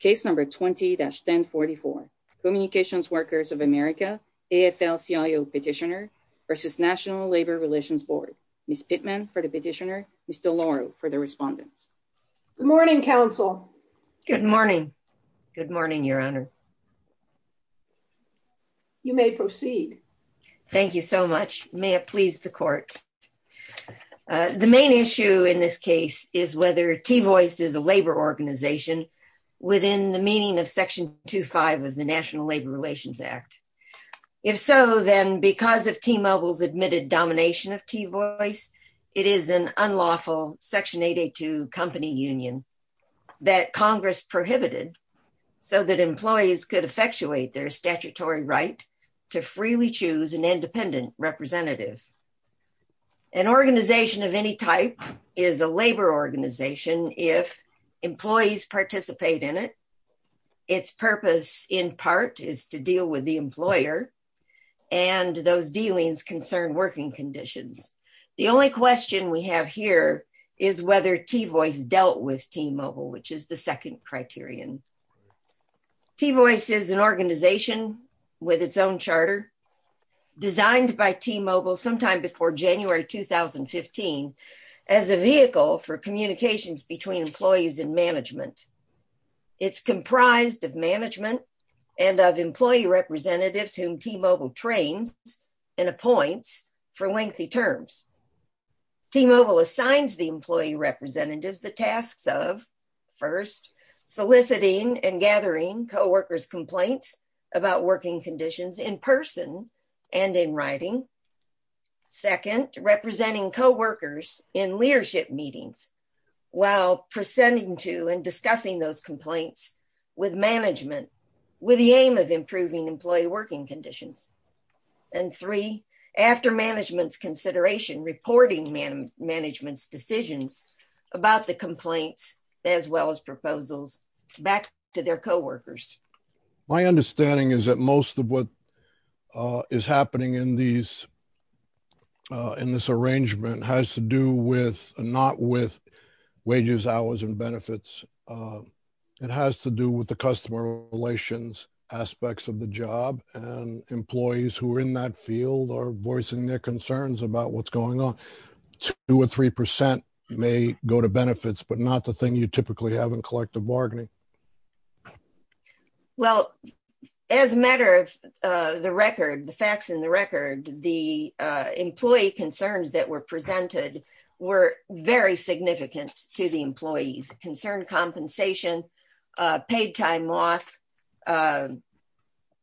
Case number 20-1044, Communications Workers of America, AFL-CIO Petitioner v. National Labor Relations Board. Ms. Pittman for the petitioner, Ms. DeLauro for the respondents. Good morning, counsel. Good morning. Good morning, your honor. You may proceed. Thank you so much. May it please the court. The main issue in this case is whether T-Voice is a labor organization within the meaning of Section 25 of the National Labor Relations Act. If so, then because of T-Mobile's admitted domination of T-Voice, it is an unlawful Section 882 company union that Congress prohibited so that employees could effectuate their statutory right to freely choose an independent representative. An organization of any type is a labor organization if employees participate in it, its purpose in part is to deal with the employer, and those dealings concern working conditions. The only question we have here is whether T-Voice dealt with T-Mobile, which is the second criterion. T-Voice is an organization with its own charter designed by T-Mobile sometime before January 2015 as a vehicle for communications between employees and management. It's comprised of management and of employee representatives whom T-Mobile trains and appoints for lengthy terms. T-Mobile assigns the employee representatives the tasks of, first, soliciting and gathering co-workers' complaints about working conditions in person and in writing, second, representing co-workers in leadership meetings while presenting to and discussing those complaints with management with the aim of improving employee working conditions, and three, after management's consideration, reporting management's decisions about the complaints as well as proposals back to their co-workers. My understanding is that most of what is happening in these in this arrangement has to do with not with wages, hours, and benefits, it has to do with the customer relations aspects of the job, and employees who are in that field are voicing their concerns about what's going on. Two or three percent may go to benefits, but not the thing you typically have in collective bargaining. Well, as a matter of the record, the facts in the record, the employee concerns that were presented were very significant to the employees. Concerned compensation, paid time off,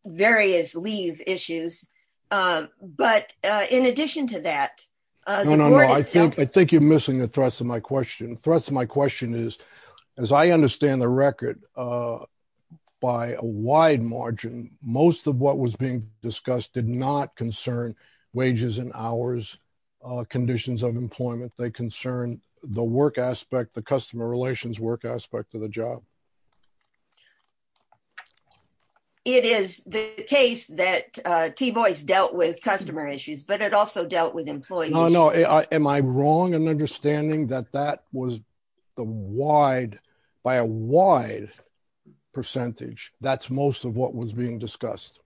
various leave issues, but in addition to that... No, no, no. I think you're missing the thrust of my question. The thrust of my question is, as I understand the record, by a wide margin, most of what was being discussed did not concern wages and hours, conditions of employment, they concern the work aspect, the customer relations work aspect of the job. It is the case that T-Boys dealt with customer issues, but it also dealt with employees. No, no. Am I wrong in understanding that that was the wide, by a wide percentage? That's most of what was being discussed.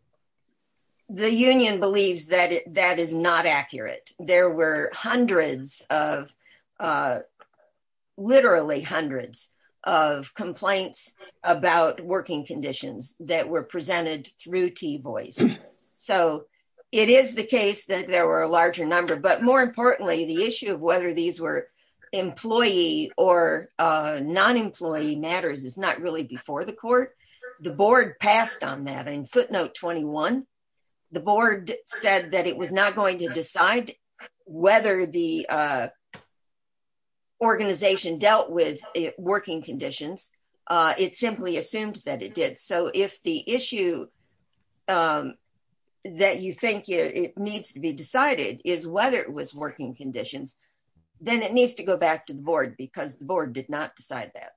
The union believes that that is not accurate. There were hundreds of, literally hundreds, of complaints about working conditions that were presented through T-Boys. So, it is the case that there were a larger number, but more importantly, the issue of whether these were employee or non-employee matters is not really before the court. The board passed on that in footnote 21. The board said that it was not going to decide whether the organization dealt with working conditions. It simply assumed that it did. So, if the issue that you think it needs to be decided is whether it was working conditions, then it needs to go back to the board because the board did not decide that.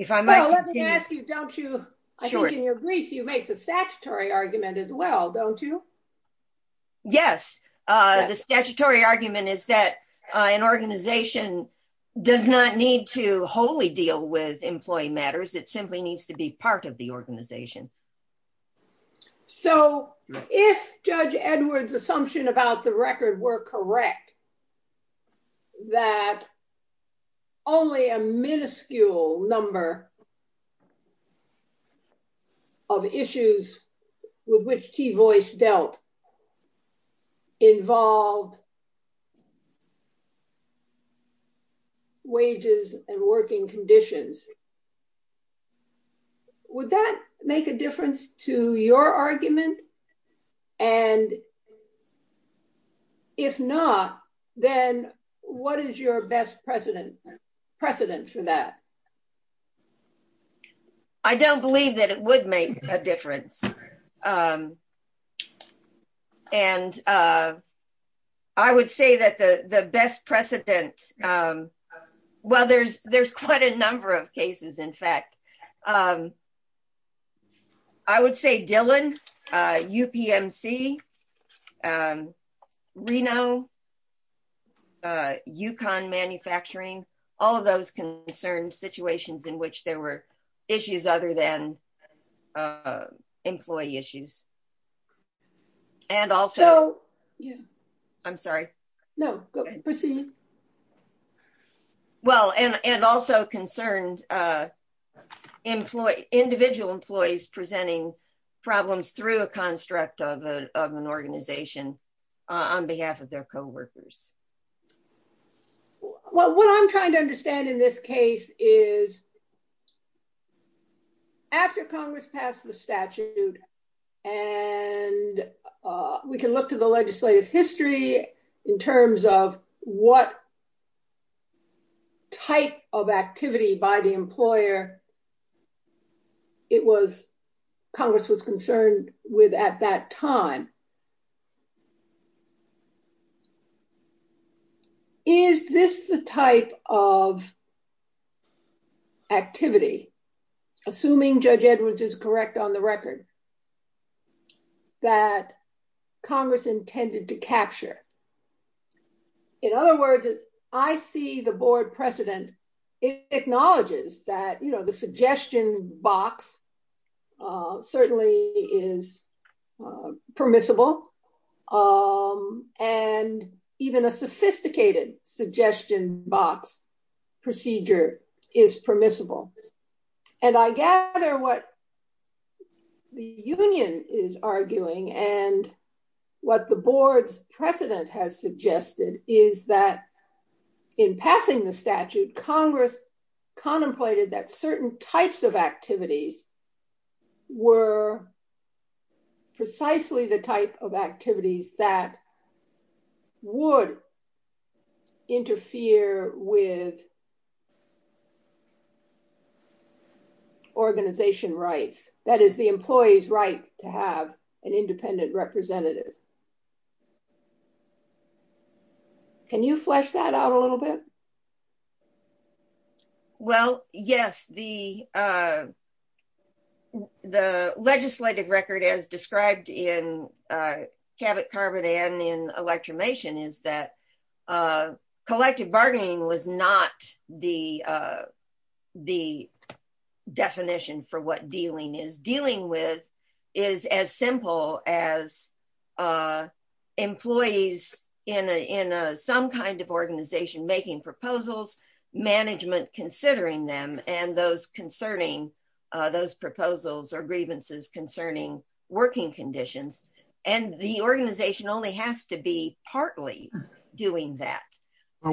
I think in your brief, you make the statutory argument as well, don't you? Yes. The statutory argument is that an organization does not need to wholly deal with employee matters. It simply needs to be part of the organization. So, if Judge Edwards' assumption about the record were correct, that only a minuscule number of issues with which T-Boys dealt involved wages and working conditions. Would that make a difference to your argument? And if not, then what is your best precedent for that? I don't believe that it would make a difference. And I would say that the best precedent, well, there's quite a number of cases, in fact. I would say Dillon, UPMC, Reno, Yukon Manufacturing, all of those concerned situations in which there were issues other than individual employees presenting problems through a construct of an organization on behalf of their co-workers. Well, what I'm trying to understand in this case is after Congress passed the statute and we can look to the legislative history in terms of what type of activity by the employer it was Congress was concerned with at that time, is this the type of activity, assuming Judge Edwards is correct on the record, that Congress intended to capture? In other words, as I see the board precedent, it acknowledges that the suggestion box certainly is permissible, and even a sophisticated suggestion box procedure is permissible. And I gather what the union is arguing and what the board's precedent has suggested is that in passing the statute, Congress contemplated that certain types of activities were precisely the type of activities that would interfere with organization rights, that is the employee's right to have an independent representative. Can you flesh that out a little bit? Well, yes. The legislative record as described in Cabot-Carbon and in electromation is that collective bargaining was not the definition for what dealing is. Dealing with is as simple as employees in some kind of organization making proposals, management considering them, and those concerning those proposals or grievances concerning working conditions. And the organization only has to be partly doing that. I'm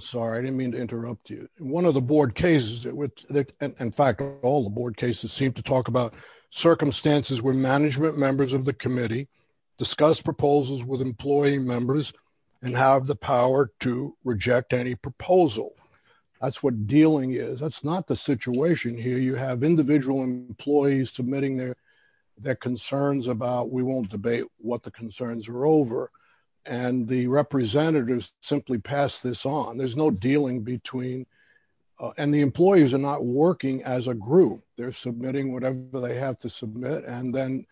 sorry, I didn't mean to interrupt you. One of the board cases, in fact, all the board cases seem to talk about circumstances where management members of the committee discuss proposals with employee members and have the power to reject any proposal. That's what dealing is. That's not the situation here. You have individual employees submitting their concerns about, we won't debate what the concerns are over, and the representatives simply pass this on. There's no dealing between, and the employees are not working as a group. They're submitting whatever they have to submit, and then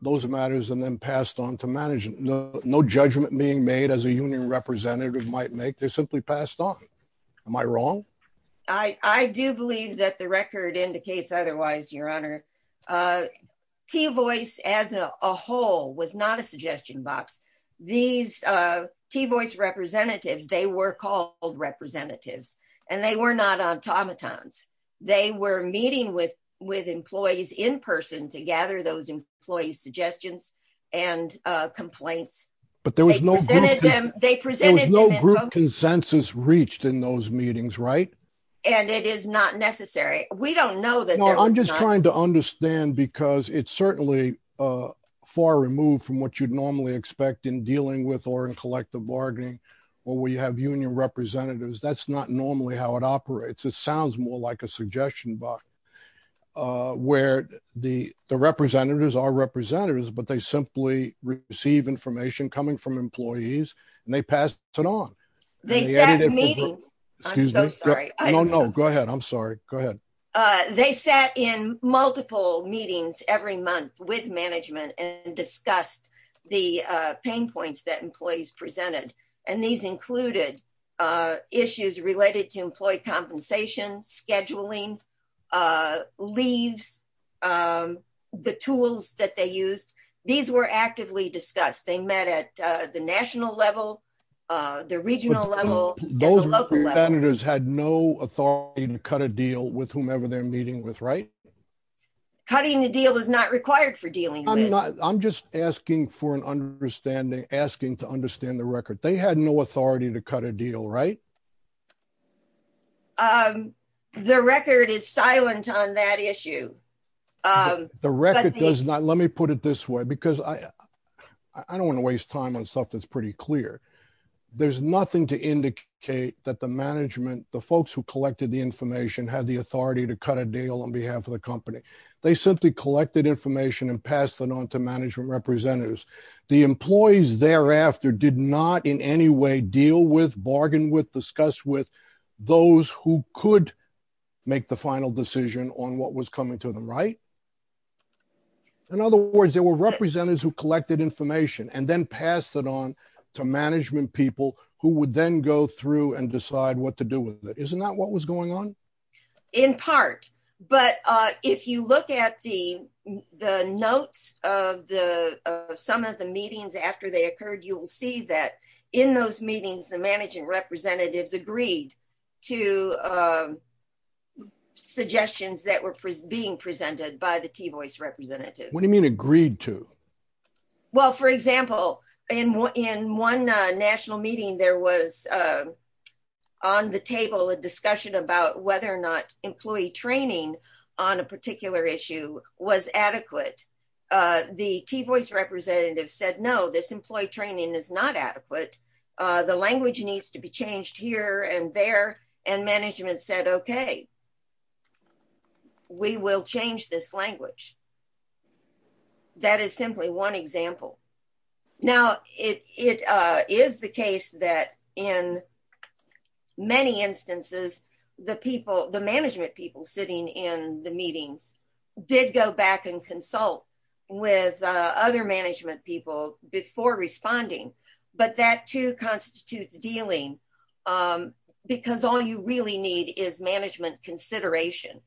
those matters are then passed on to management. No judgment being made as a union representative might make. They're simply passed on. Am I wrong? I do believe that the record indicates otherwise, your honor. T-voice as a whole was not a suggestion box. These T-voice representatives, they were called representatives, and they were not automatons. They were meeting with employees in person to gather those employees' suggestions and complaints. But there was no group consensus reached in those meetings, right? And it is not necessary. We don't know that. I'm just trying to understand, because it's certainly far removed from what you'd normally expect in dealing with or in collective bargaining, where we have union representatives. That's not normally how it operates. It sounds more like a suggestion box, where the representatives are representatives, but they simply receive information coming from employees, and they pass it on. They sat in meetings. I'm so sorry. No, no. Go ahead. I'm sorry. Go ahead. They sat in multiple meetings every month with management and discussed the pain points that employees presented. And these included issues related to employee compensation, scheduling, leaves, the tools that they used. These were actively discussed. They met at the national level, the regional level, and the local level. Those representatives had no authority to cut a deal with whomever they're meeting with, right? Cutting a deal is not required for dealing with. I'm just asking for an understanding, asking to understand the record. They had no authority to cut a deal, right? The record is silent on that issue. The record does not. Let me put it this way, because I don't want to waste time on stuff that's pretty clear. There's nothing to indicate that the management, the folks who collected the information, had the authority to cut a deal on behalf of the company. They simply collected information and passed it on to management representatives. The employees thereafter did not in any way deal with, bargain with, discuss with those who could make the final decision on what was coming to them, right? In other words, there were representatives who collected information and then passed it on to management people who would then go through and decide what to do with it. Isn't that what was going on? In part, but if you look at the notes of some of the meetings after they occurred, you'll see that in those meetings, the management representatives agreed to suggestions that were being presented by the T-voice representatives. What do you mean agreed to? Well, for example, in one national meeting, there was on the table a discussion about whether or not employee training on a particular issue was adequate. The T-voice representatives said, no, this employee training is not adequate. The language needs to be changed here and there and management said, okay, we will change this language. That is simply one example. Now, it is the case that in many instances, the people, the management people sitting in the meetings did go back and consult with other management people before responding, but that too constitutes dealing because all you really need is management consideration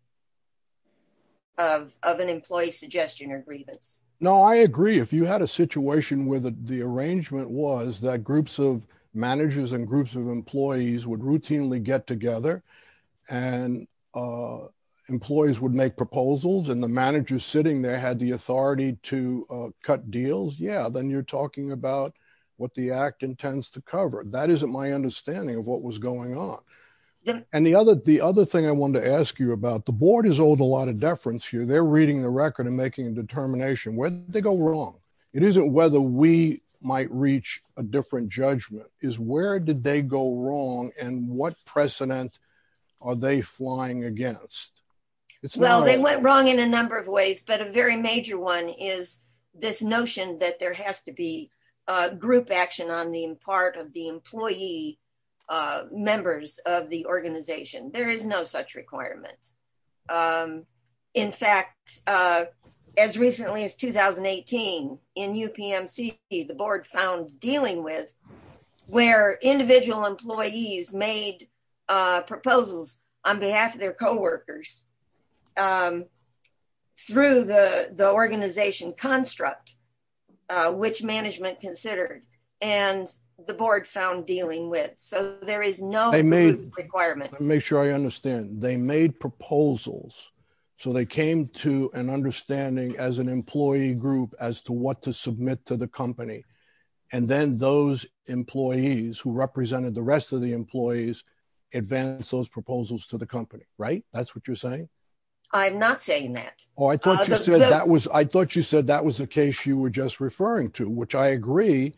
of an employee suggestion or grievance. No, I agree. If you had a situation where the arrangement was that groups of managers and groups of employees would routinely get together and employees would make proposals and the manager sitting there had the authority to what the act intends to cover. That isn't my understanding of what was going on. And the other thing I wanted to ask you about, the board has owed a lot of deference here. They're reading the record and making a determination. Where did they go wrong? It isn't whether we might reach a different judgment. It's where did they go wrong and what precedent are they flying against? Well, they went wrong in a number of ways, but a very major one is this notion that there has to be group action on the part of the employee members of the organization. There is no such requirement. In fact, as recently as 2018 in UPMC, the board found dealing with where individual employees made proposals on behalf of their construct, which management considered, and the board found dealing with. So, there is no group requirement. Let me make sure I understand. They made proposals, so they came to an understanding as an employee group as to what to submit to the company. And then those employees who represented the rest of the employees advanced those proposals to the case you were just referring to, which I agree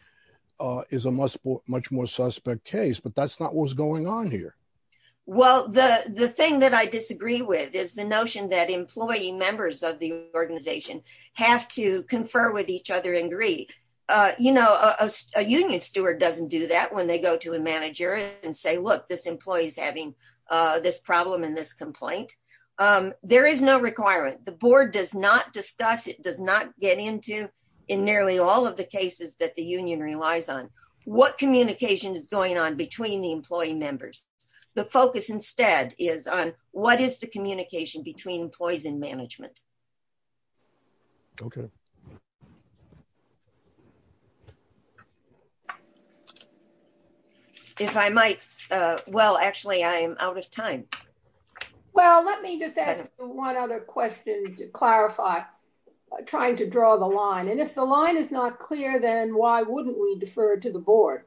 is a much more suspect case, but that's not what's going on here. Well, the thing that I disagree with is the notion that employee members of the organization have to confer with each other and agree. You know, a union steward doesn't do that when they go to a manager and say, look, this employee is having this problem in this complaint. There is no requirement. The board does not discuss, it does not get into in nearly all of the cases that the union relies on what communication is going on between the employee members. The focus instead is on what is the communication between employees and management. Okay. If I might, well, actually, I'm out of time. Well, let me just ask one other question to clarify, trying to draw the line. And if the line is not clear, then why wouldn't we defer to the board?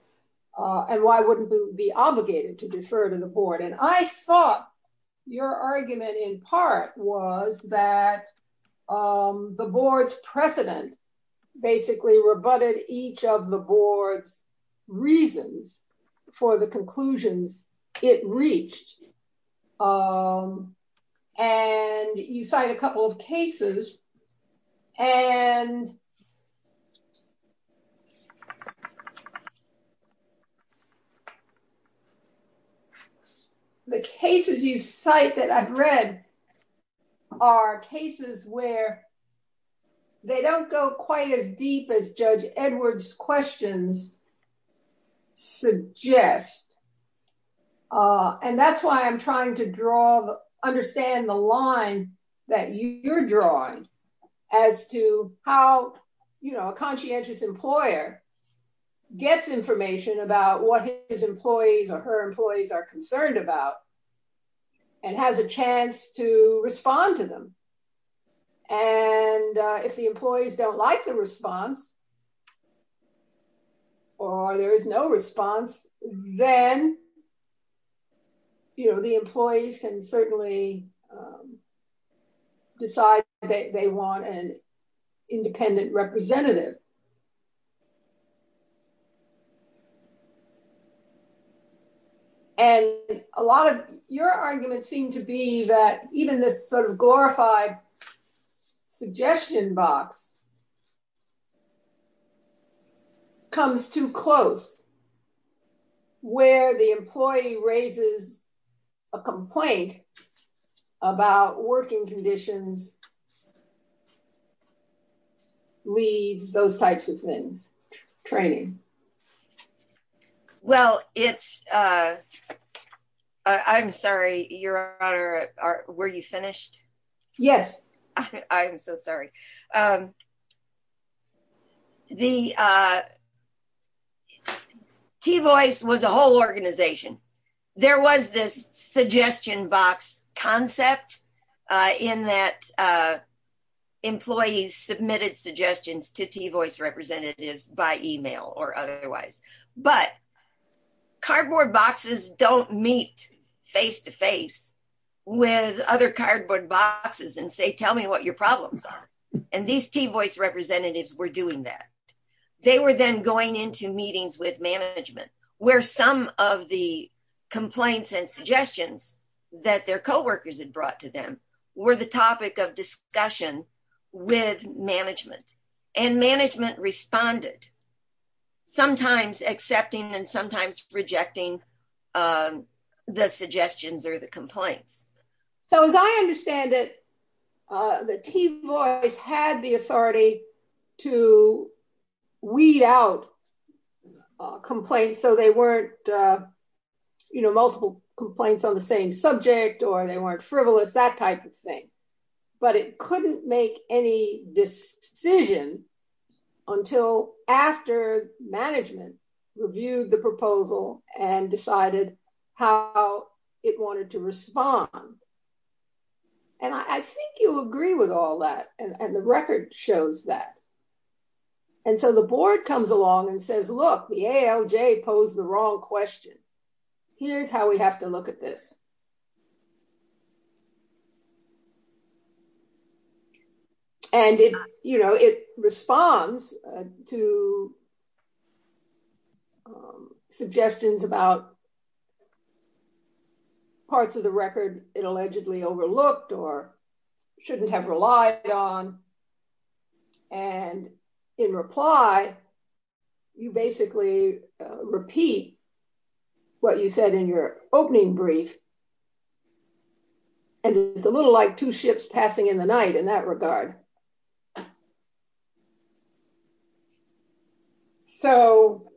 And why wouldn't we be obligated to defer to the board? And I thought your argument in part was that the board's precedent basically rebutted each of the board's reasons for the conclusions it reached. And you cite a couple of cases and the cases you cite that I've read are cases where they don't go quite as deep as Edward's questions suggest. And that's why I'm trying to draw, understand the line that you're drawing as to how, you know, a conscientious employer gets information about what his employees or her employees are concerned about and has a chance to respond to them. And if the employees don't like the response, or there is no response, then, you know, the employees can certainly decide that they want an independent representative. And a lot of your arguments seem to be that even this sort of glorified suggestion box comes too close, where the employee raises a complaint about working conditions, leave, those types of things, training. Well, it's, I'm sorry, Your Honor, were you finished? Yes. I'm so sorry. The, T-Voice was a whole organization. There was this suggestion box concept in that employees submitted suggestions to T-Voice representatives by email or otherwise. But cardboard boxes don't meet face to face with other cardboard boxes and say, tell me what your problems are. And these T-Voice representatives were doing that. They were then going into meetings with management where some of the complaints and suggestions that their co-workers had brought to them were the topic of discussion with management. And management responded, sometimes accepting and sometimes rejecting the suggestions or the complaints. So as I understand it, the T-Voice had the authority to weed out complaints so they weren't, you know, multiple complaints on the same subject or they weren't frivolous, that type of thing. But it couldn't make any decision until after management reviewed the proposal and decided how it wanted to respond. And I think you'll agree with all that. And the record shows that. And so the board comes along and says, look, the AOJ posed the wrong question. Here's how we have to look at this. And it, you know, it responds to suggestions about parts of the record it allegedly overlooked or shouldn't have relied on. And in reply, you basically repeat what you said in your opening brief. And it's a little like two ships passing in the night in that regard. So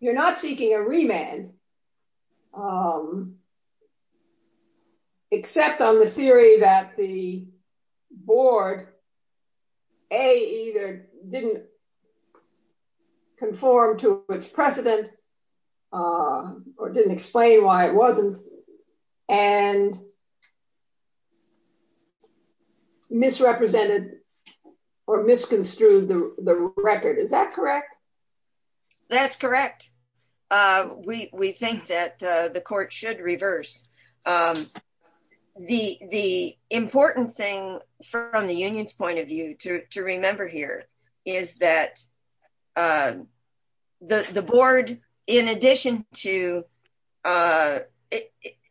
you're not seeking a remand except on the theory that the board, A, either didn't conform to its precedent or didn't explain why it wasn't. And misrepresented or misconstrued the record, is that correct? That's correct. We think that the court should reverse. The important thing from the union's is that the board, in addition to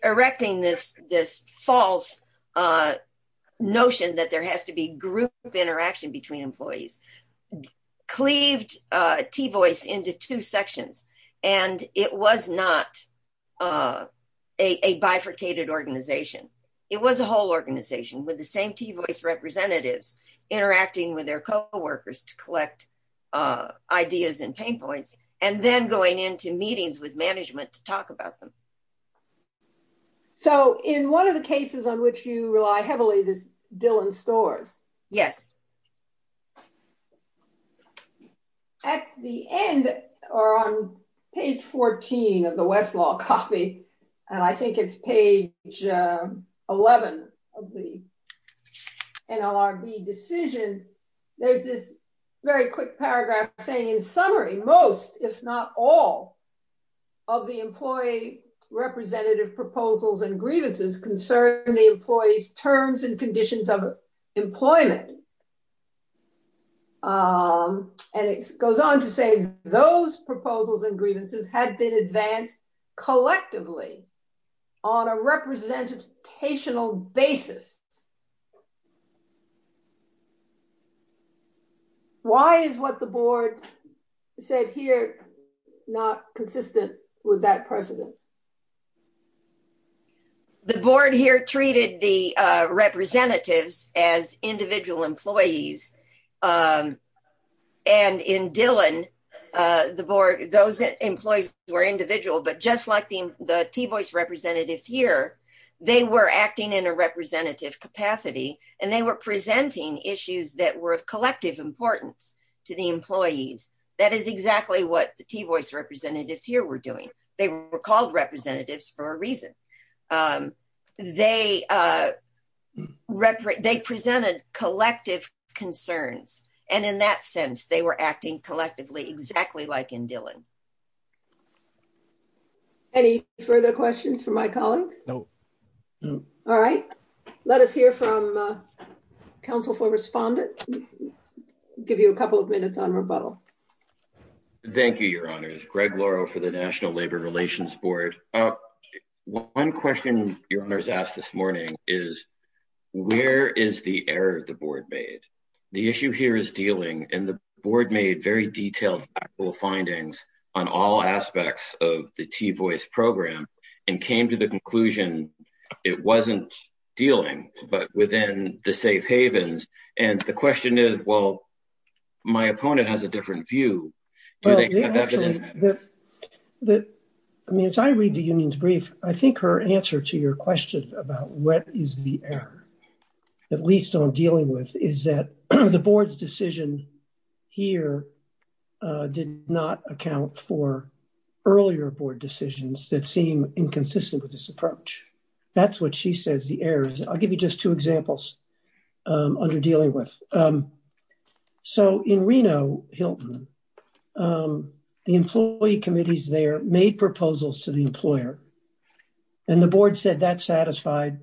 erecting this false notion that there has to be group interaction between employees, cleaved T-VOICE into two sections. And it was not a bifurcated organization. It was a whole organization with the same T-VOICE representatives interacting with their co-workers to collect ideas and pain points, and then going into meetings with management to talk about them. So in one of the cases on which you rely heavily, this Dillon Storrs. Yes. At the end, or on page 14 of the Westlaw copy, and I think it's page 11 of the decision, there's this very quick paragraph saying, in summary, most, if not all, of the employee representative proposals and grievances concern the employee's terms and conditions of employment. And it goes on to say those proposals and grievances had been advanced collectively on a representational basis. Why is what the board said here not consistent with that precedent? The board here treated the representatives as individual employees. And in Dillon, the board, those employees were individual, but just like the T-VOICE representatives here, they were acting in a representative capacity, and they were presenting issues that were of collective importance to the employees. That is exactly what the T-VOICE representatives here were doing. They were called representatives for a reason. They represented collective concerns. And in that sense, they were acting collectively, exactly like in Dillon. Any further questions from my colleagues? No. All right. Let us hear from Council for Respondent. Give you a couple of minutes on rebuttal. Thank you, Your Honors. Greg Lauro for the National Labor Relations Board. One question Your Honors asked this morning is, where is the error the board made? The issue here is dealing, and the board made very detailed actual findings on all aspects of the T-VOICE program and came to the conclusion it was not dealing, but within the safe havens. And the union's brief, I think her answer to your question about what is the error, at least on dealing with, is that the board's decision here did not account for earlier board decisions that seem inconsistent with this approach. That is what she says the error is. I will give you just two examples under dealing with. So in Reno, Hilton, the employee committees made proposals to the employer, and the board said that satisfied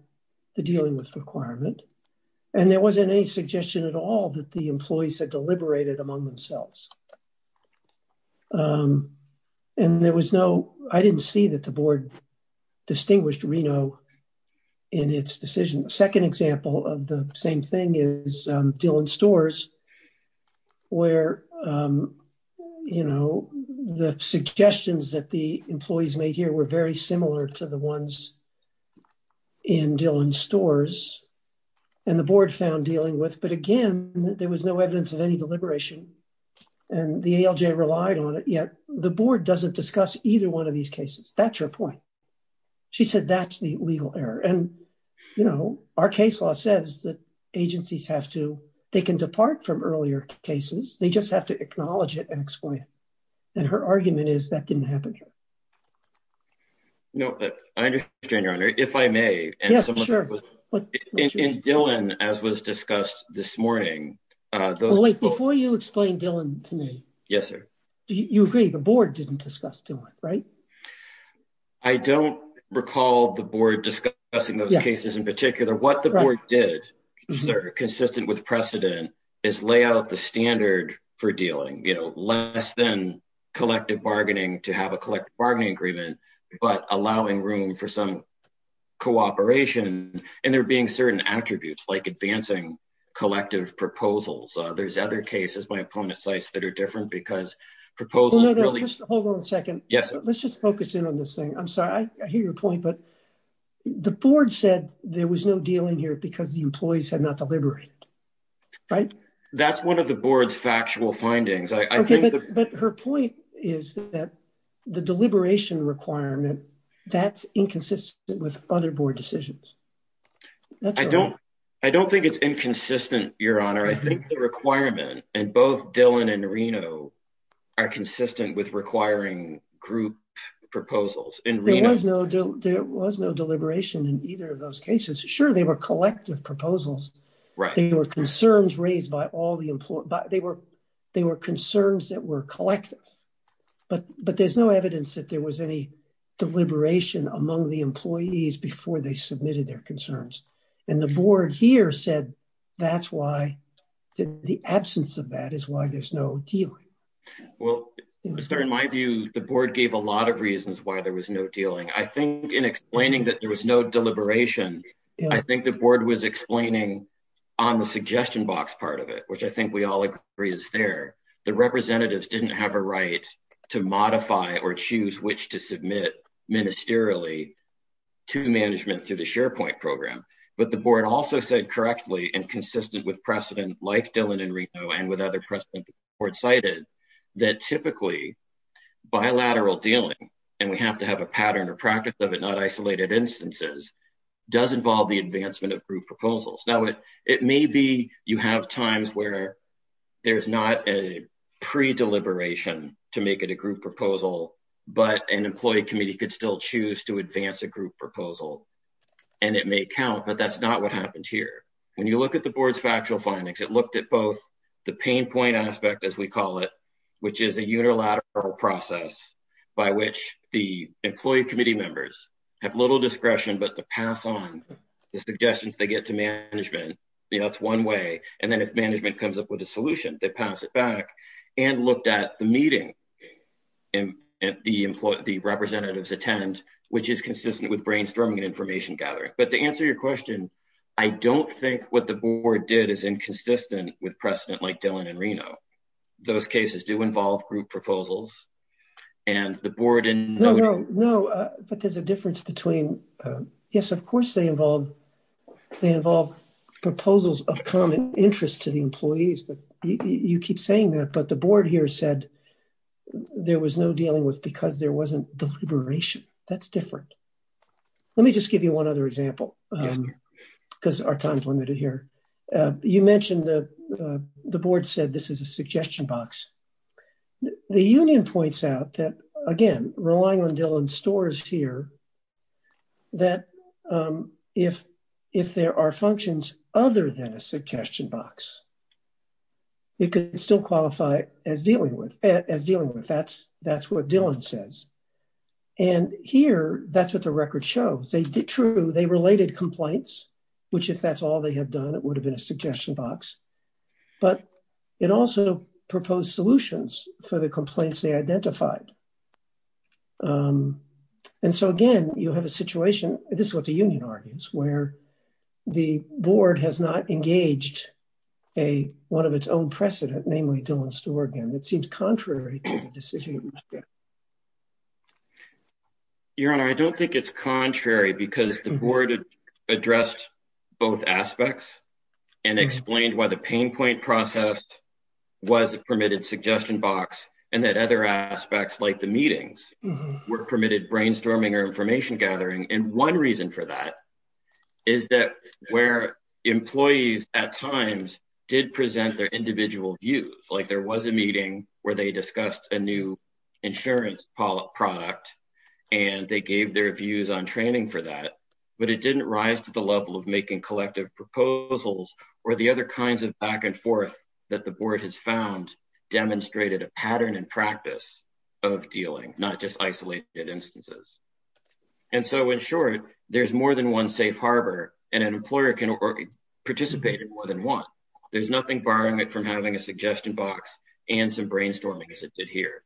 the dealing with requirement. And there wasn't any suggestion at all that the employees had deliberated among themselves. And there was no, I didn't see that the board distinguished Reno in its decision. Second example of the same thing is Dillon Stores, where the suggestions that the employees made here were very similar to the ones in Dillon Stores, and the board found dealing with. But again, there was no evidence of any deliberation, and the ALJ relied on it. Yet the board doesn't discuss either one of these cases. That's her point. She said that's the legal error. And our case law says that agencies have to, they can depart from earlier cases, they just have to acknowledge it and explain it. And her argument is that didn't happen here. No, I understand, Your Honor, if I may. Yes, sure. In Dillon, as was discussed this morning. Wait, before you explain Dillon to me. Yes, sir. You agree the board didn't discuss Dillon, right? I don't recall the board discussing those cases in particular. What the board did, consistent with precedent, is lay out the standard for dealing, you know, less than collective bargaining to have a collective bargaining agreement, but allowing room for some cooperation. And there being certain attributes, like advancing collective proposals. There's other cases by opponent sites that are different because proposals really... I'm sorry, I hear your point, but the board said there was no dealing here because the employees had not deliberated, right? That's one of the board's factual findings. But her point is that the deliberation requirement, that's inconsistent with other board decisions. I don't think it's inconsistent, Your Honor. I think the requirement, and both group proposals. There was no deliberation in either of those cases. Sure, they were collective proposals. They were concerns raised by all the employees. They were concerns that were collective, but there's no evidence that there was any deliberation among the employees before they submitted their concerns. And the board here said that's why the absence of that is why there's no deal. Well, in my view, the board gave a lot of reasons why there was no dealing. I think in explaining that there was no deliberation, I think the board was explaining on the suggestion box part of it, which I think we all agree is there. The representatives didn't have a right to modify or choose which to submit ministerially to management through the SharePoint program. But the board also said correctly and consistent with precedent like Dillon and Reno and with other precedent the board cited, that typically bilateral dealing, and we have to have a pattern or practice of it, not isolated instances, does involve the advancement of group proposals. Now, it may be you have times where there's not a pre-deliberation to make it a group proposal, but an employee committee could still choose to advance a group proposal. And it may count, but that's not what happened here. When you look at the board's factual findings, it looked at both the pain point aspect, as we call it, which is a unilateral process by which the employee committee members have little discretion, but the pass on the suggestions they get to management, you know, it's one way. And then if management comes up with a solution, they pass it back and looked at the meeting and the representatives attend, which is consistent with brainstorming and information gathering. But to answer your question, I don't think what the board did is consistent with precedent like Dillon and Reno. Those cases do involve group proposals and the board... No, no, but there's a difference between, yes, of course, they involve, they involve proposals of common interest to the employees, but you keep saying that, but the board here said there was no dealing with because there wasn't deliberation. That's different. Let me just give you one other example because our time is limited here. You mentioned the board said this is a suggestion box. The union points out that, again, relying on Dillon's stories here, that if there are functions other than a suggestion box, it could still qualify as dealing with, as dealing says. And here that's what the record shows. They did true, they related complaints, which if that's all they had done, it would have been a suggestion box, but it also proposed solutions for the complaints they identified. And so again, you have a situation, this is what the union argues, where the board has not engaged a, one of its own precedent, namely Dillon's story again, seems contrary to the decision. Your Honor, I don't think it's contrary because the board addressed both aspects and explained why the pain point process was a permitted suggestion box, and that other aspects like the meetings were permitted brainstorming or information gathering. And one reason for that is that where employees at times did present their individual views, like there was a meeting where they discussed a new insurance product and they gave their views on training for that, but it didn't rise to the level of making collective proposals or the other kinds of back and forth that the board has found demonstrated a pattern and practice of dealing, not just isolated instances. And so in short, there's more than one safe harbor and an employer can participate in more than one. There's nothing barring it from having a suggestion box and some brainstorming as it did here.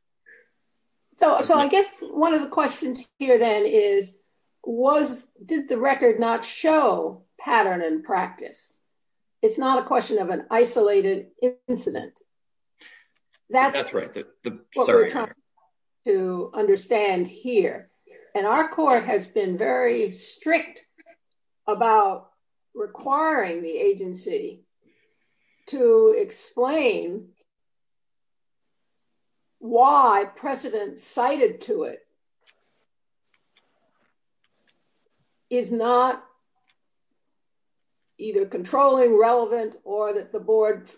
So I guess one of the questions here then is, was, did the record not show pattern and practice? It's not a question of an isolated incident. That's right. That's what we're trying to understand here. And our court has been very interested in why precedent cited to it is not either controlling, relevant, or that the board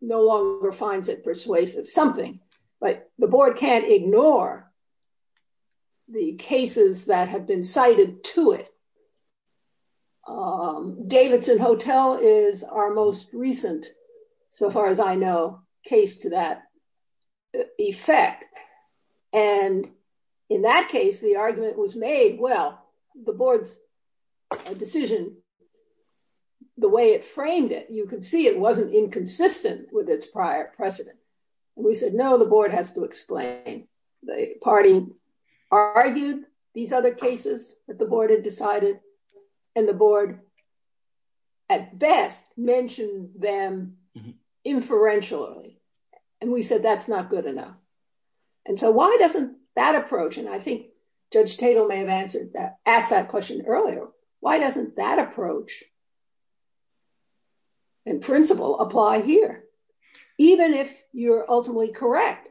no longer finds it persuasive. Something. But the board can't ignore the cases that have been cited to it. Davidson Hotel is our most recent, so far as I know, case to that effect. And in that case, the argument was made, well, the board's decision, the way it framed it, you could see it wasn't inconsistent with its prior precedent. We said, no, the board has to explain. The party argued these other cases that the board had decided and the board at best mentioned them inferentially. And we said, that's not good enough. And so why doesn't that approach? And I think Judge Tatel may have asked that question earlier. Why doesn't that approach and principle apply here? Even if you're ultimately correct,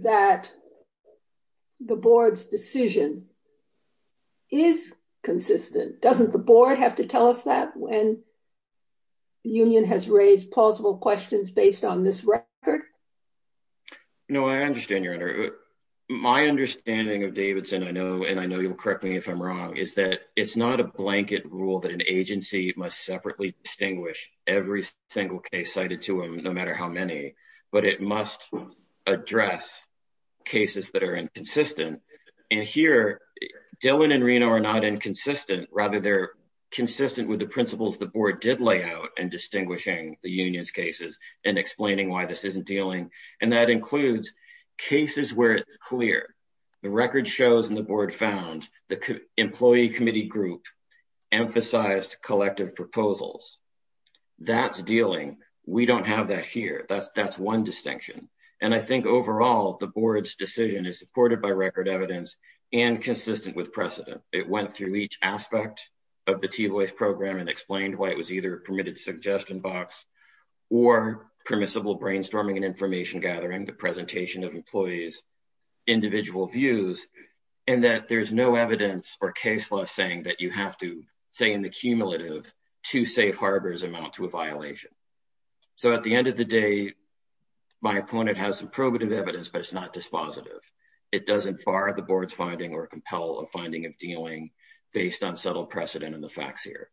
that the board's decision is consistent, doesn't the board have to tell us that when the union has raised plausible questions based on this record? No, I understand, Your Honor. My understanding of Davidson, I know, and I know you'll correct me if I'm wrong, is that it's not a blanket rule that an agency must separately distinguish every single case cited to them, no matter how many, but it must address cases that are inconsistent. And here, Dillon and Reno are not inconsistent. Rather, they're consistent with the principles the board did lay out in distinguishing the union's cases and explaining why this isn't dealing. And that includes cases where it's clear. The record shows and the board found the employee committee group emphasized collective proposals. That's dealing. We don't have that here. That's one distinction. And I think overall, the board's decision is supported by record evidence and consistent with precedent. It went through each aspect of the T-voice program and explained why it was either permitted suggestion box or permissible brainstorming and information gathering, the presentation of employees' individual views, and that there's no evidence or case law saying that you have to, say in the cumulative, two safe harbors amount to a violation. So at the end of the day, my opponent has some probative evidence, but it's not dispositive. It doesn't bar the board's finding or compel a finding of dealing based on subtle precedent and the facts here.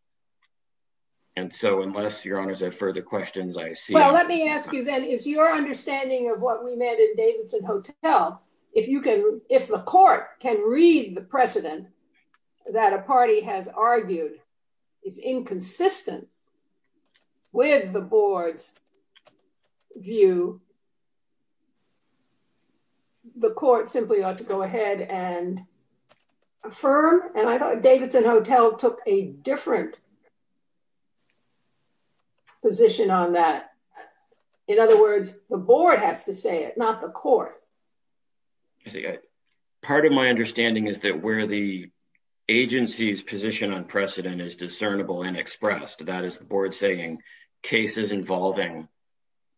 And so unless Your Honors have further questions, I see- Let me ask you then, is your understanding of what we met in Davidson Hotel, if the court can read the precedent that a party has argued is inconsistent with the board's view, the court simply ought to go ahead and affirm? And I thought Davidson Hotel took a different position on that. In other words, the board has to say it, not the court. Part of my understanding is that where the agency's position on precedent is discernible and expressed, that is the board saying cases involving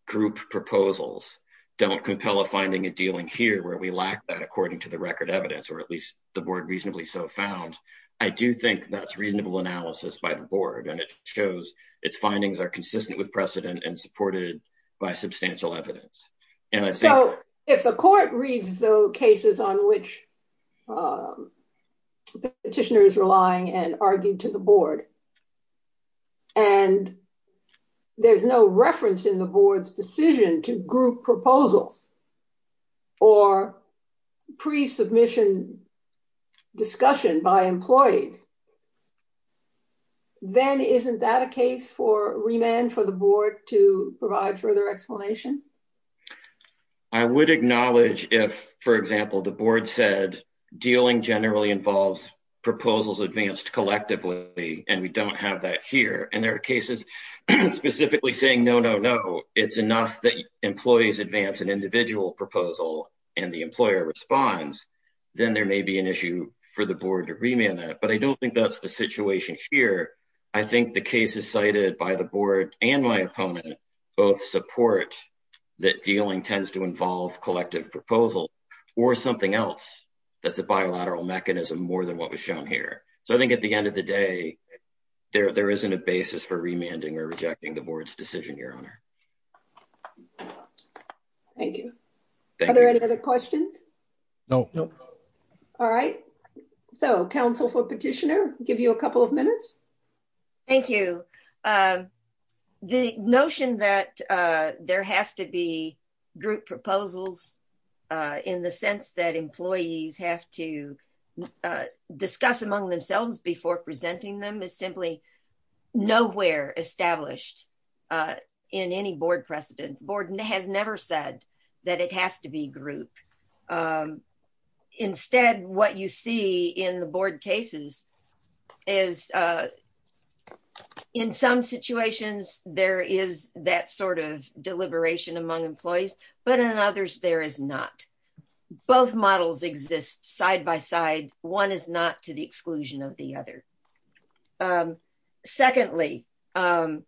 group proposals don't compel a finding of dealing here where we lack that according to the record evidence, or at least the board its findings are consistent with precedent and supported by substantial evidence. So if the court reads the cases on which the petitioner is relying and argued to the board and there's no reference in the board's decision to group proposals or pre-submission discussion by employees, then isn't that a case for remand for the board to provide further explanation? I would acknowledge if, for example, the board said dealing generally involves proposals advanced collectively and we don't have that here. And there are cases specifically saying, it's enough that employees advance an individual proposal and the employer responds, then there may be an issue for the board to remand that. But I don't think that's the situation here. I think the cases cited by the board and my opponent both support that dealing tends to involve collective proposals or something else that's a bilateral mechanism more than what was shown here. So I think at the end of the day, there isn't a basis for remanding or rejecting the board's decision, your honor. Thank you. Are there any other questions? All right. So counsel for petitioner, give you a couple of minutes. Thank you. The notion that there has to be group proposals in the sense that employees have to in any board precedent, the board has never said that it has to be group. Instead, what you see in the board cases is in some situations, there is that sort of deliberation among employees, but in others, there is not. Both models exist side by side. One is not to the exclusion of the other. Secondly, the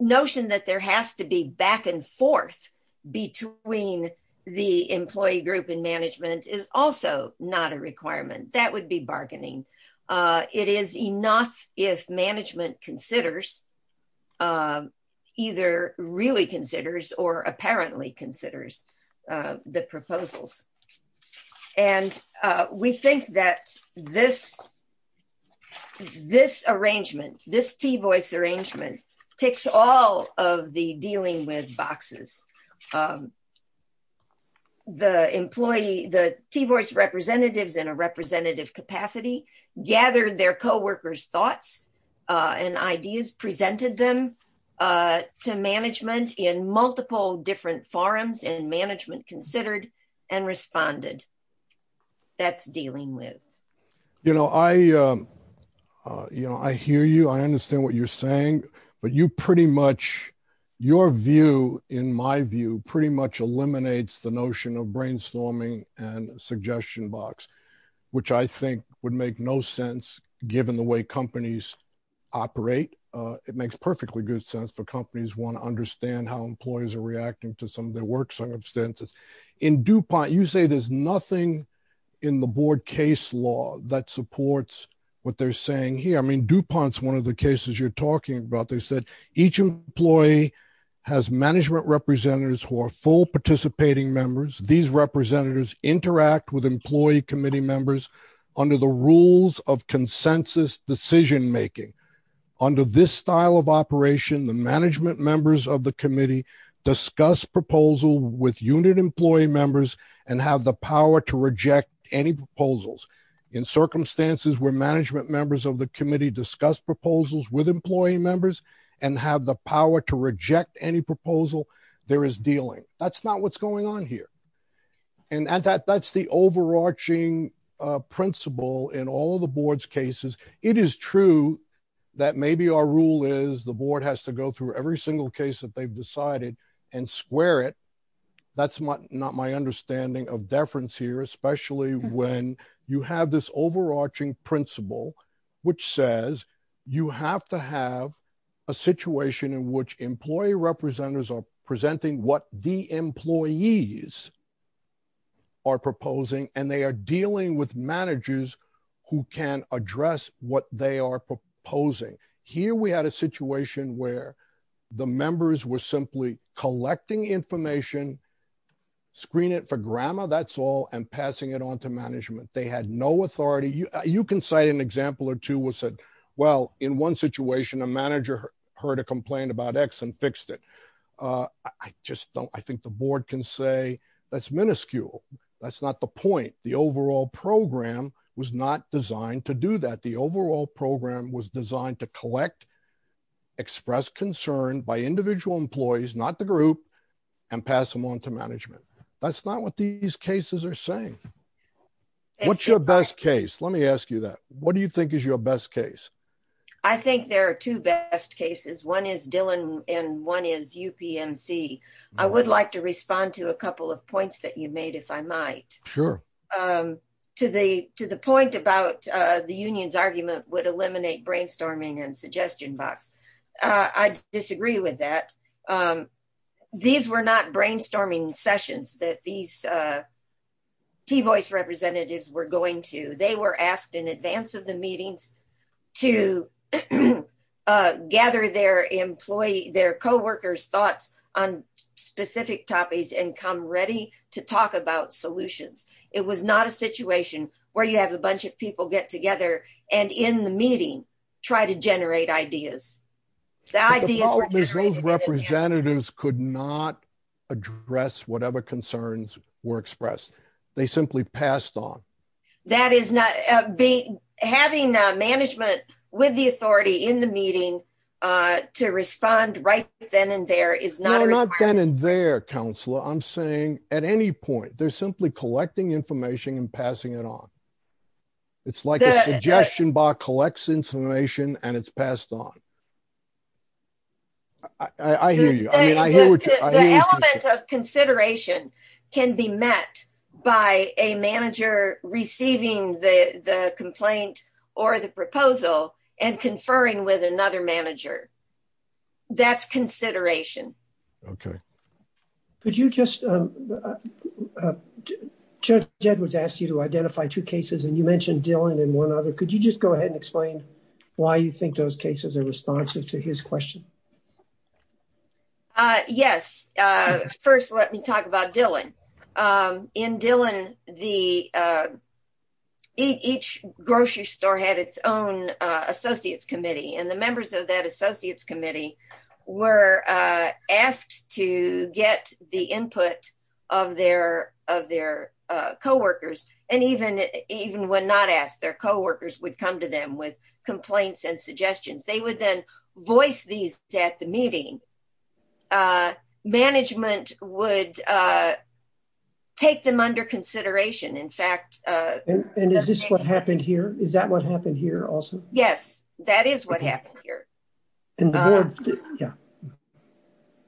notion that there has to be back and forth between the employee group and management is also not a requirement. That would be bargaining. It is enough if management considers, either really considers or apparently considers the proposals. And we think that this arrangement, this T-voice arrangement, takes all of the dealing with boxes. The employee, the T-voice representatives in a representative capacity gathered their coworkers' thoughts and ideas, presented them to management in multiple different forums, and management considered and responded. That's dealing with. You know, I hear you. I understand what you're saying. But you pretty much, your view, in my view, pretty much eliminates the notion of brainstorming and suggestion box, which I think would make no sense given the way companies operate. It makes perfectly good sense for employees are reacting to some of their work circumstances. In DuPont, you say there's nothing in the board case law that supports what they're saying here. I mean, DuPont's one of the cases you're talking about. They said each employee has management representatives who are full participating members. These representatives interact with employee committee members under the rules of consensus decision-making. Under this style of operation, the management members of the committee discuss proposal with unit employee members and have the power to reject any proposals. In circumstances where management members of the committee discuss proposals with employee members and have the power to reject any proposal, there is dealing. That's not what's going on here. And that's the overarching principle in all of the board's cases. It is true that maybe our rule is the board has to go through every single case that they've decided and square it. That's not my understanding of deference here, especially when you have this overarching principle, which says you have to have a situation in which employee representatives are presenting what the employees are proposing, and they are dealing with managers who can address what they are proposing. Here we had a situation where the members were simply collecting information, screen it for grammar, that's all, and passing it on to management. They had no authority. You can cite an example or two that said, well, in one situation, a manager heard a complaint about X and fixed it. I just don't, I think the board can say that's minuscule. That's not the point. The overall program was not designed to do that. The overall program was designed to collect, express concern by individual employees, not the group, and pass them on to management. That's not what these cases are saying. What's your best case? Let me ask you that. What do you think is your best case? I think there are two best cases. One is Dillon and one is UPMC. I would like to respond to a question. To the point about the union's argument would eliminate brainstorming and suggestion box. I disagree with that. These were not brainstorming sessions that these T-voice representatives were going to. They were asked in advance of the meetings to gather their co-workers' thoughts on specific topics and come ready to talk about solutions. It was not a situation where you have a bunch of people get together and in the meeting try to generate ideas. Those representatives could not address whatever concerns were expressed. They simply passed on. Having management with the authority in the meeting to respond right then and there is not a requirement. Not then and there, I'm saying at any point. They are simply collecting information and passing it on. It's like a suggestion box collects information and it's passed on. I hear you. The element of consideration can be met by a manager receiving the complaint or the proposal and conferring with another manager. That's consideration. Could you explain why you think those cases are responsive to his question? Yes. First, let me talk about Dillon. In Dillon, each grocery store had its own committee. The members of that committee were asked to get the input of their co-workers. Even when not asked, their co-workers would come to them with complaints and suggestions. They would then voice these at the meeting. Management would take them under consideration. Is this what happened here? Is that what happened here also? Yes, that is what happened here.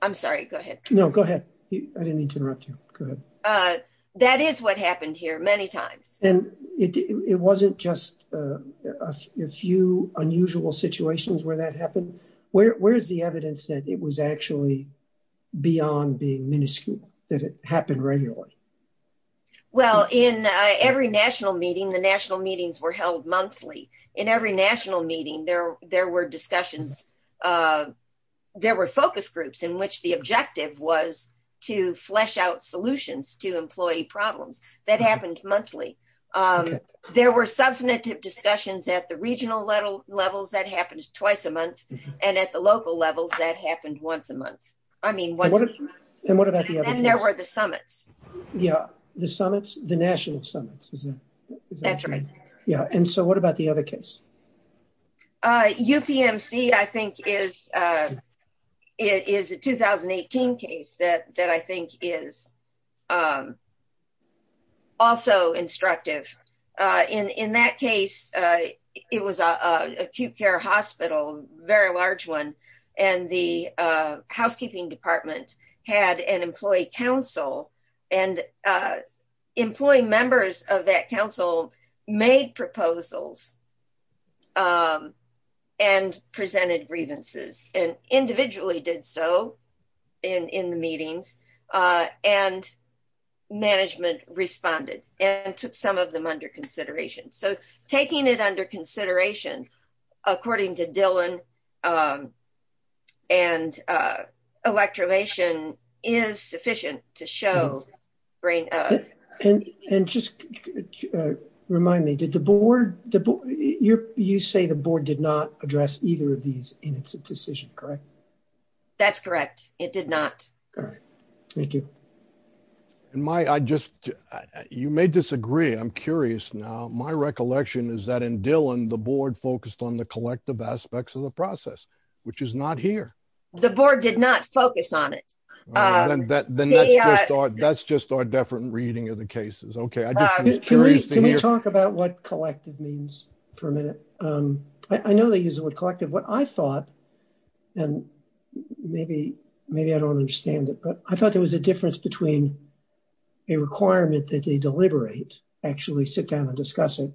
I'm sorry. Go ahead. No, go ahead. I didn't mean to interrupt you. That is what happened here many times. It wasn't just a few unusual situations where that happened. Where is the evidence that it was actually beyond being minuscule? Did it happen regularly? In every national meeting, the national meetings were held monthly. In every national meeting, there were discussions. There were focus groups in which the objective was to flesh out solutions to employee problems. That happened monthly. There were substantive discussions at the regional levels that happened twice a month. At the local levels, that happened once a month. What about the other case? Then there were the summits. Yes, the national summits. What about the other case? UPMC is a 2018 case that I think is also instructive. In that case, it was an acute department. It had an employee council. Employee members of that council made proposals and presented grievances. Individually did so in the meetings. Management responded and took some of them under consideration. Taking it under consideration, according to Dylan and electromation is sufficient to show brain. Just remind me, you say the board did not address either of these in its decision, correct? That's correct. It did not. Thank you. You may disagree. I'm curious now. My recollection is that in Dylan, the board focused on the collective aspects of the process, which is not here. The board did not focus on it. That's just our different reading of the cases. Can we talk about what collective means for a minute? I know they use the word collective. What I thought, and maybe I don't understand it, but I thought there was a difference between a requirement that they deliberate, actually sit down and discuss it,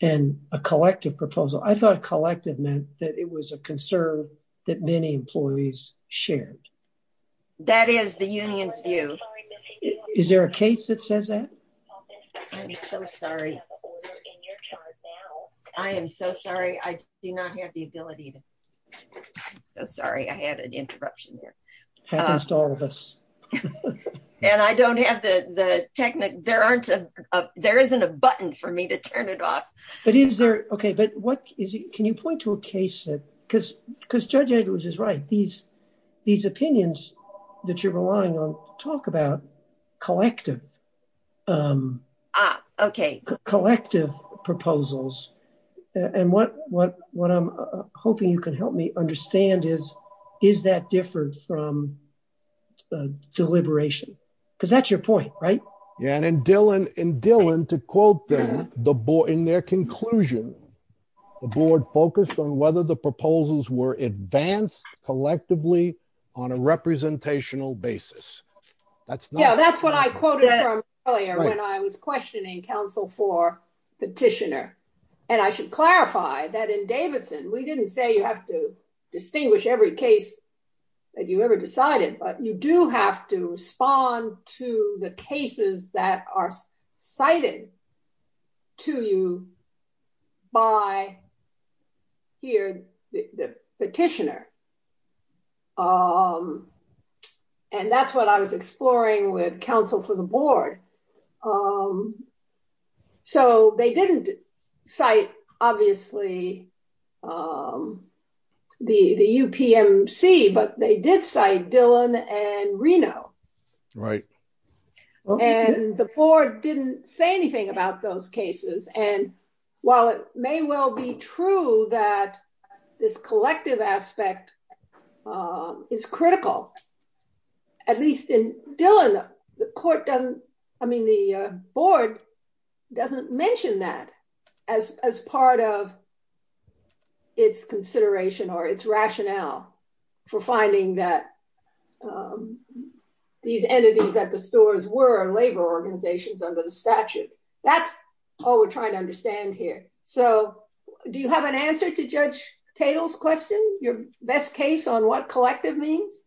and a collective proposal. I thought collective meant that it was a concern that many employees shared. That is the union's view. Is there a case that says that? I'm so sorry. I am so sorry. I do not have the ability. I'm so sorry. I had an interruption happens to all of us. I don't have the technique. There isn't a button for me to turn it off. Can you point to a case? Because Judge Edwards is right. These opinions that you're relying on talk about collective proposals. What I'm hoping you can help me understand is, is that different from deliberation? Because that's your point, right? Yeah, and Dylan, to quote them, in their conclusion, the board focused on whether the proposals were advanced collectively on a representational basis. That's not- Yeah, that's what I quoted from earlier when I was questioning counsel for petitioner. I should clarify that in Davidson, we didn't say you have to distinguish every case that you ever decided, but you do have to respond to the cases that are cited to you by the petitioner. Um, and that's what I was exploring with counsel for the board. So they didn't cite, obviously, the UPMC, but they did cite Dylan and Reno. Right. And the board didn't say anything about those cases. And while it may well be true that this collective aspect is critical, at least in Dylan, the court doesn't, I mean, the board doesn't mention that as part of its consideration or its rationale for finding that these entities at the stores were labor organizations under the statute. That's all we're trying to understand here. So do you have an answer to Judge Tatel's question, your best case on what collective means?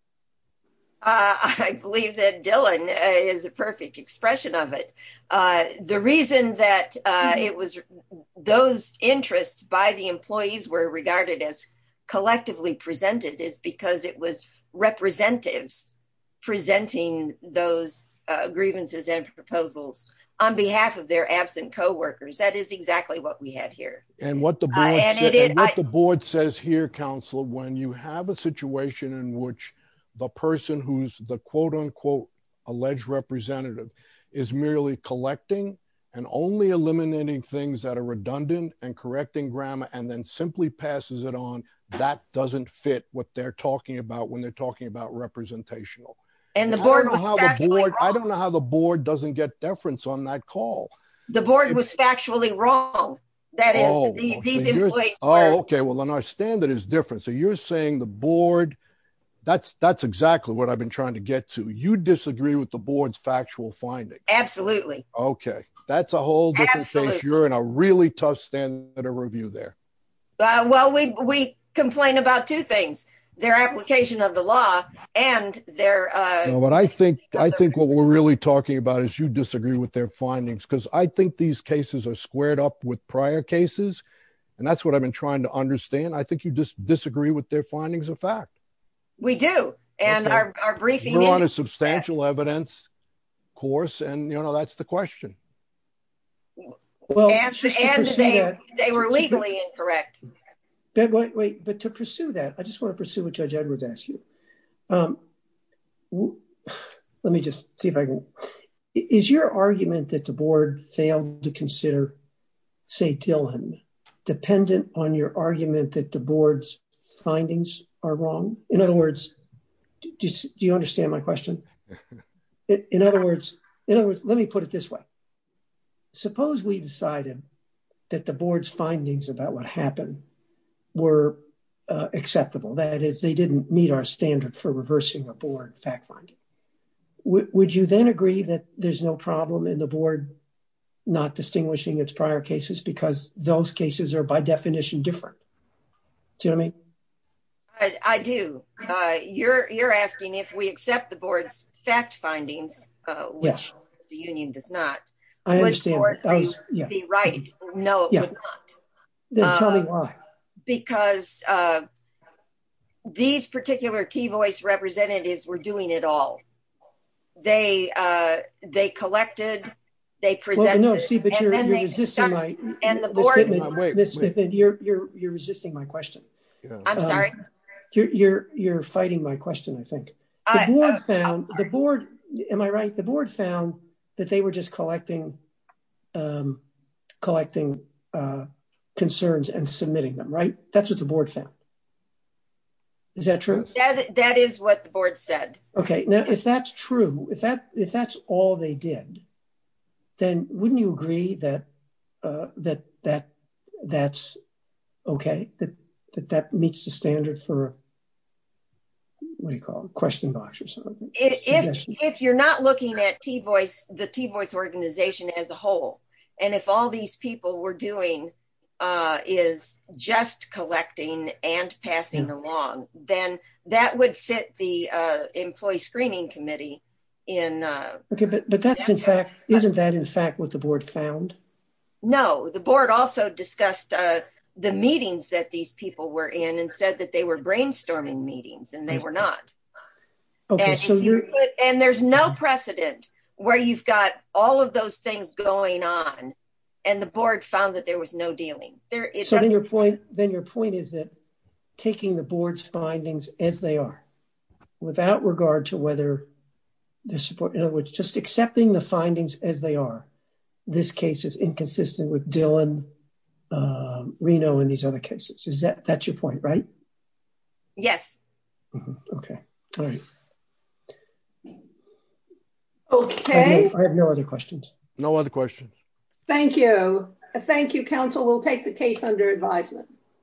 I believe that Dylan is a perfect expression of it. The reason that it was those interests by the employees were regarded as collectively presented is because it was representatives presenting those grievances and proposals on behalf of their absent co-workers. That is exactly what we had here. And what the board says here, counsel, when you have a situation in which the person who's the quote unquote alleged representative is merely collecting and only eliminating things that are redundant and correcting grammar, and then simply passes it on that doesn't fit what they're talking about when they're talking about representational. I don't know how the board doesn't get deference on that call. The board was factually wrong. Okay. Well, then our standard is different. So you're saying the board, that's exactly what I've been trying to get to. You disagree with the board's factual finding. Absolutely. Okay. That's a whole different thing. You're in a really tough stand at a review there. Well, we complain about two things, their application of the law and their... I think what we're really talking about is you disagree with their findings, because I think these cases are squared up with prior cases. And that's what I've been trying to understand. I think you just disagree with their findings of fact. We do. And our briefing... You're on a substantial evidence course. And that's the question. Well... They were legally incorrect. Wait, but to pursue that, I just want to pursue what Judge Edwards asked you. Let me just see if I can... Is your argument that the board failed to consider, say, Dillon, dependent on your argument that the board's findings are wrong? In other words, do you understand my question? In other words, let me put it this way. Suppose we decided that the board's findings about what happened were acceptable. That is, they didn't meet our standard for reversing a board fact finding. Would you then agree that there's no problem in the board not distinguishing its prior cases because those cases are, by definition, different? Do you know what I mean? I do. You're asking if we accept the board's fact findings, which the union does not. I understand. Would the board be right? No, it would not. Then tell me why. Because these particular T-voice representatives were doing it all. They collected, they presented... Well, no, see, but you're resisting my... And the board... Ms. Whitman, you're resisting my question. I'm sorry? You're fighting my question, I think. The board found, am I right? The board found that they were just collecting concerns and submitting them, right? That's what the board found. Is that true? That is what the board said. Okay. Now, if that's true, if that's all they did, then wouldn't you agree that that's okay, that that meets the standard for, what do you call it, a question box or something? If you're not looking at the T-voice organization as a whole, and if all these people were doing is just collecting and passing along, then that would fit the employee screening committee in... Okay, but isn't that, in fact, what the board found? No, the board also discussed the meetings that these people were in and said that they were brainstorming meetings, and they were not. And there's no precedent where you've got all of those things going on, and the board found that there was no dealing. Then your point is that taking the board's findings as they are, without regard to whether the support, in other words, just accepting the findings as they are, this case is inconsistent with Dillon, Reno, and these other cases. That's your point, right? Yes. Okay. Okay. I have no other questions. No other questions. Thank you. Thank you, counsel. We'll take the case under advisement.